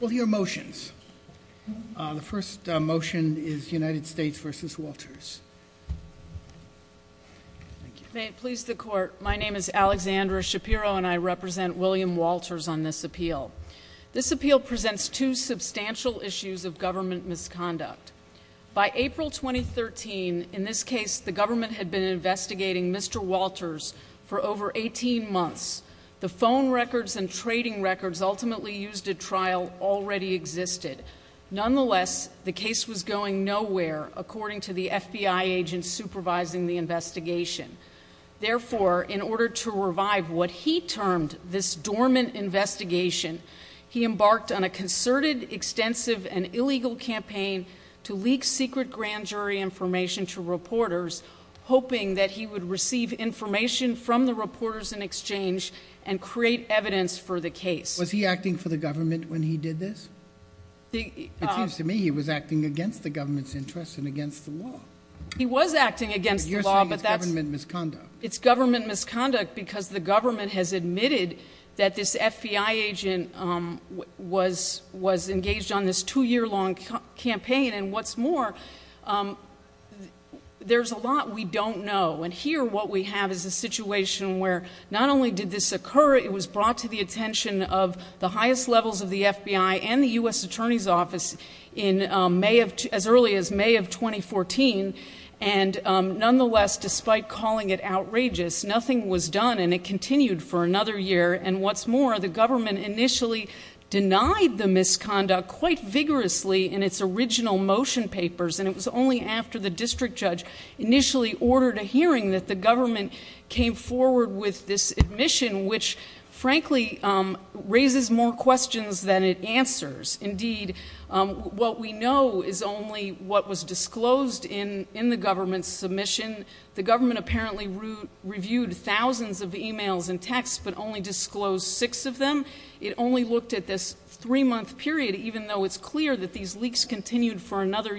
Will hear motions. The first motion is United States v. Walters. May it please the court, my name is Alexandra Shapiro and I represent William Walters on this appeal. This appeal presents two substantial issues of government misconduct. By April 2013, in this case, the government had been investigating Mr. Walters for over 18 months. The phone records and trading records ultimately used a trial already existed. Nonetheless, the case was going nowhere according to the FBI agents supervising the investigation. Therefore, in order to revive what he termed this dormant investigation, he embarked on a concerted, extensive, and illegal campaign to leak secret grand jury information to reporters hoping that he would receive information from the reporters in exchange and create evidence for the case. Was he acting for the government when he did this? It seems to me he was acting against the government's interest and against the law. He was acting against the law. You're saying it's government misconduct. It's government misconduct because the government has admitted that this FBI agent was engaged on this two year long campaign and what's more, there's a lot we don't know and here what we have is a situation where not only did this occur, it was brought to the attention of the highest levels of the FBI and the U.S. Attorney's Office as early as May of 2014 and nonetheless, despite calling it outrageous, nothing was done and it continued for another year and what's more, the government initially denied the misconduct quite vigorously in its original motion papers and it was only after the district judge initially ordered a hearing that the government came forward with this admission which frankly raises more questions than it answers. Indeed, what we know is only what was disclosed in the government's submission. The government apparently reviewed thousands of emails and texts but only disclosed six of them. It only looked at this three month period even though it's clear that these leaks continued for a storm and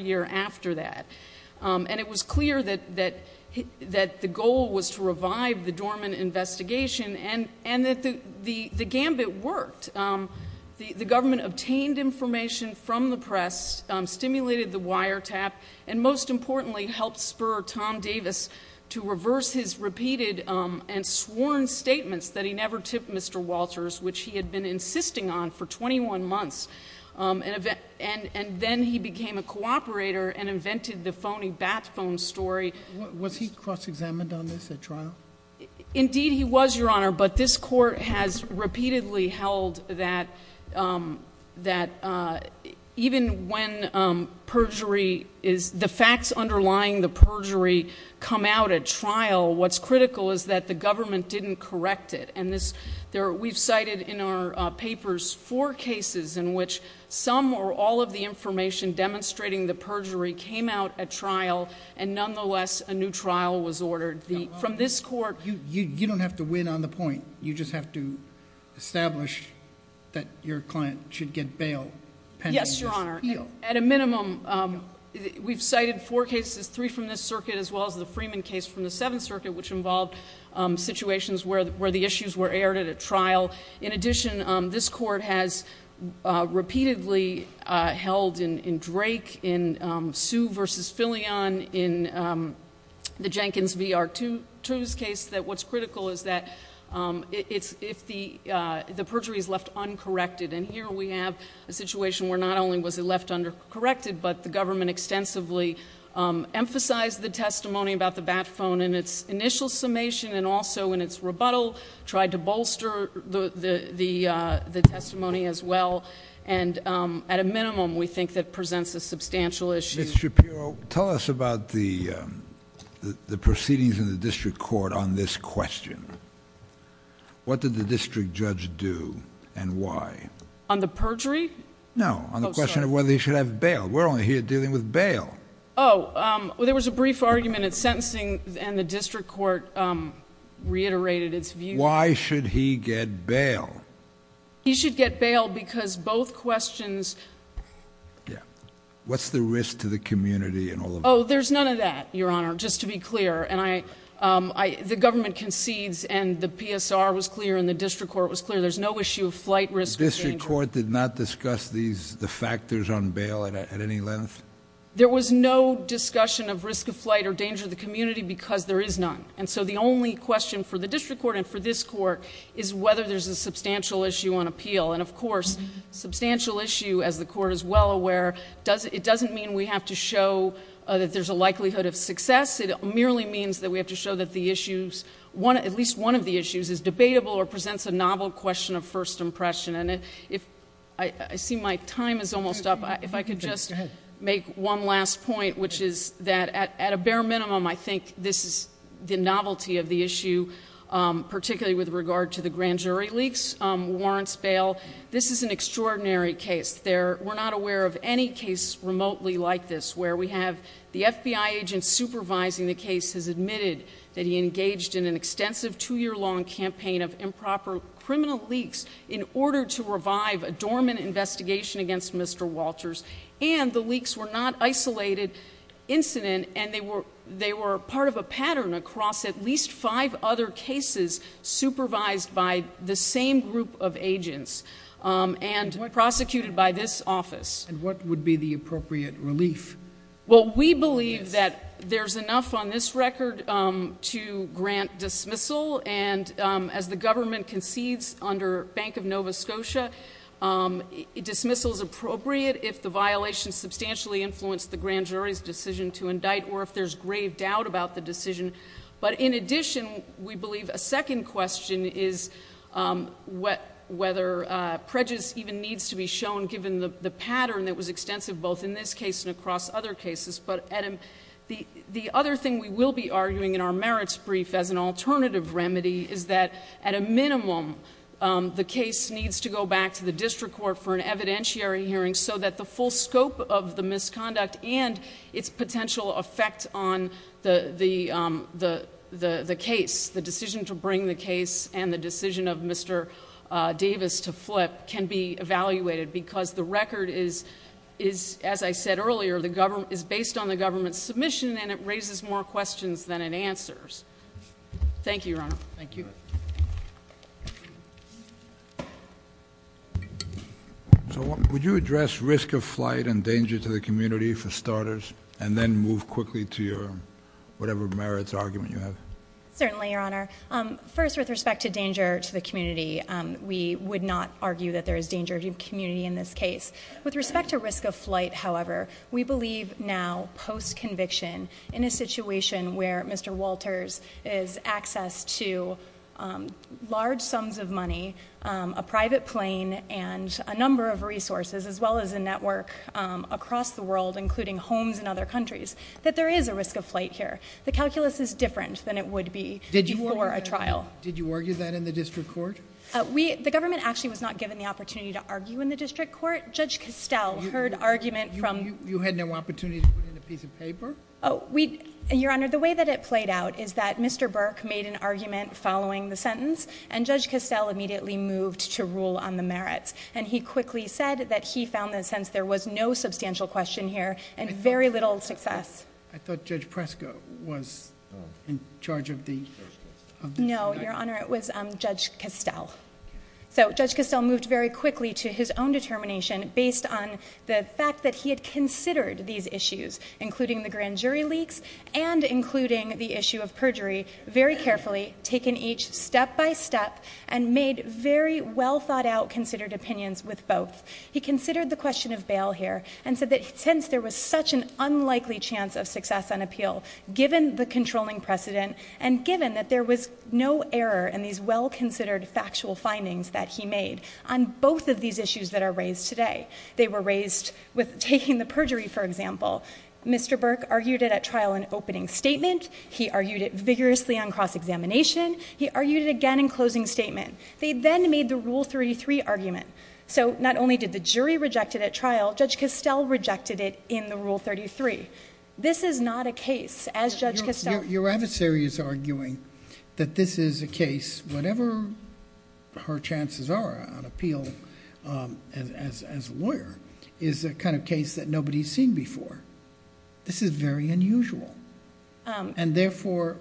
investigation and that the gambit worked. The government obtained information from the press, stimulated the wiretap and most importantly, helped spur Tom Davis to reverse his repeated and sworn statements that he never tipped Mr. Walters which he had been insisting on for 21 months and then he became a cooperator and invented the phony bat phone story. Was he cross examined on this at trial? Indeed, he was, Your Honor, but this court has repeatedly held that even when the facts underlying the perjury come out at trial, what's critical is that the government didn't correct it and we've cited in our papers four cases in which some or all of the information demonstrating the perjury came out at trial and nonetheless, a new trial was ordered. From this court. You don't have to win on the point. You just have to establish that your client should get bail pending. Yes, Your Honor. At a minimum, we've cited four cases, three from this circuit as well as the Freeman case from the Seventh Circuit which involved situations where the issues were aired at a trial. In addition, this court has repeatedly held in Drake, in Sue v. Filion, in the Jenkins v. R2 case that what's critical is that if the perjury is left uncorrected and here we have a situation where not only was it left undercorrected but the government extensively emphasized the testimony about the bat phone in its initial summation and also in its rebuttal tried to bolster the testimony as well and at a minimum we think that presents a substantial issue. Ms. Shapiro, tell us about the proceedings in the district court on this question. What did the district judge do and why? On the perjury? No, on the question of whether he should have bail. We're only here dealing with bail. Oh, there was a brief argument at sentencing and the district court reiterated its view. Why should he get bail? He should get bail because both questions... What's the risk to the community in all of this? Oh, there's none of that, your honor, just to be clear. The government concedes and the PSR was clear and the district court was clear. There's no issue of flight risk or danger. The district court did not discuss the factors on bail at any length? There was no discussion of risk of flight or danger to the community because there is none. And so the only question for the district court and for this court is whether there's a substantial issue on appeal. And of course, substantial issue, as the court is well aware, it doesn't mean we have to show that there's a likelihood of success. It merely means that we have to show that at least one of the issues is debatable or presents a novel question of first impression. I see my time is almost up. If I could just make one last point, which is that at a bare minimum, I think this is the novelty of the issue, particularly with regard to the grand jury leaks, warrants, bail. This is an extraordinary case. We're not aware of any case remotely like this where we have the FBI agent supervising the case has admitted that he engaged in an extensive two-year long campaign of improper criminal leaks in order to revive a dormant investigation against Mr. Walters. And the leaks were not isolated incident, and they were part of a pattern across at least five other cases supervised by the same group of agents and prosecuted by this office. And what would be the appropriate relief? Well, we believe that there's enough on this record to grant dismissal, and as the government concedes under Bank of Nova Scotia, dismissal is appropriate if the violation substantially influenced the grand jury's decision to indict or if there's grave doubt about the decision. But in addition, we believe a second question is whether prejudice even needs to be shown given the pattern that was extensive both in this case and across other cases. But the other thing we will be arguing in our merits brief as an alternative remedy is that at a minimum, the case needs to go back to the district court for an evidentiary hearing so that the full scope of the misconduct and its potential effect on the case, the decision to bring the case and the decision of Mr. Walters to the district court can be evaluated because the record is, as I said earlier, is based on the government's submission, and it raises more questions than it answers. Thank you, Your Honor. Thank you. So would you address risk of flight and danger to the community for starters, and then move quickly to your whatever merits argument you have? Certainly, Your Honor. First, with respect to danger to the community, we would not argue that there is danger to the community in this case. With respect to risk of flight, however, we believe now, post-conviction, in a situation where Mr. Walters is accessed to large sums of money, a private plane, and a number of resources, as well as a network across the world, including homes in other countries, that there is a risk of flight here. The calculus is different than it would be before a trial. Did you argue that in the district court? The government actually was not given the opportunity to argue in the district court. Judge Castell heard argument from... You had no opportunity to put in a piece of paper? Your Honor, the way that it played out is that Mr. Burke made an argument following the sentence, and Judge Castell immediately moved to rule on the merits, and he quickly said that he found that since there was no substantial question here and very little success... I thought Judge Preska was in charge of the... No, Your Honor, it was Judge Castell. So Judge Castell moved very quickly to his own determination based on the fact that he had considered these issues, including the grand jury leaks, and including the issue of perjury, very carefully, taking each step by step, and made very well-thought-out, considered opinions with both. He considered the question of bail here, and said that since there was such an unlikely chance of success on appeal, given the controlling precedent, and given that there was no error in these well-considered factual findings that he made on both of these issues that are raised today. They were raised with taking the perjury, for example. Mr. Burke argued it at trial in opening statement. He argued it vigorously on cross-examination. He argued it again in closing statement. They then made the Rule 33 argument. So not only did the jury reject it at trial, Judge Castell rejected it in the Rule 33. This is not a case, as Judge Castell... Your adversary is arguing that this is a case, whatever her chances are on appeal as a lawyer, is a kind of case that nobody's seen before. This is very unusual. And therefore,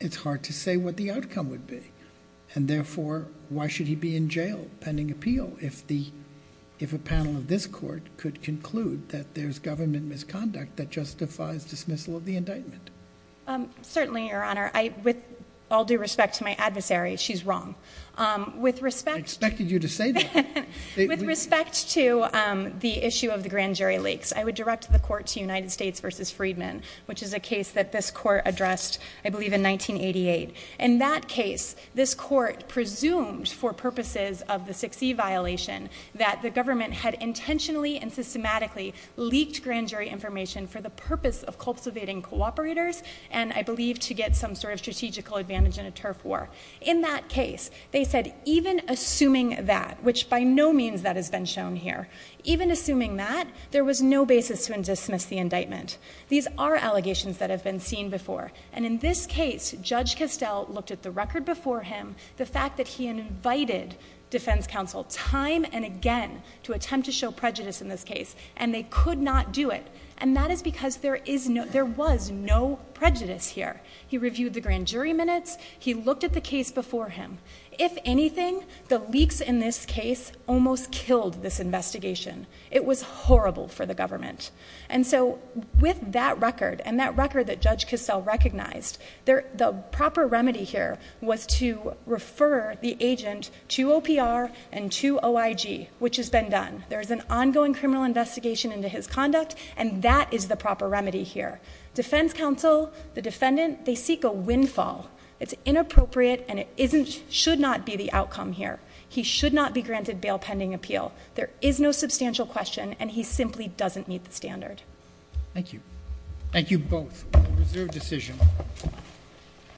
it's hard to say what the outcome would be. And therefore, why should he be in jail pending appeal if a panel of this court could conclude that there's government misconduct that justifies dismissal of the indictment? Certainly, Your Honor. With all due respect to my adversary, she's wrong. I expected you to say that. With respect to the issue of the grand jury leaks, I would direct the court to United States v. Freedman, which is a case that this court that the government had intentionally and systematically leaked grand jury information for the purpose of cultivating cooperators and, I believe, to get some sort of strategical advantage in a turf war. In that case, they said, even assuming that, which by no means that has been shown here, even assuming that, there was no basis to dismiss the indictment. These are allegations that have been seen before. And in this case, Judge Castell looked at the record before him, the fact that he invited defense counsel time and again to attempt to show prejudice in this case, and they could not do it. And that is because there was no prejudice here. He reviewed the grand jury minutes. He looked at the case before him. If anything, the leaks in this case almost killed this investigation. It was horrible for the government. And so, with that record and that agent to OPR and to OIG, which has been done, there is an ongoing criminal investigation into his conduct, and that is the proper remedy here. Defense counsel, the defendant, they seek a windfall. It's inappropriate, and it shouldn't be the outcome here. He should not be granted bail pending appeal. There is no substantial question, and he simply doesn't meet the standard. Thank you. Thank you both. Reserved decision.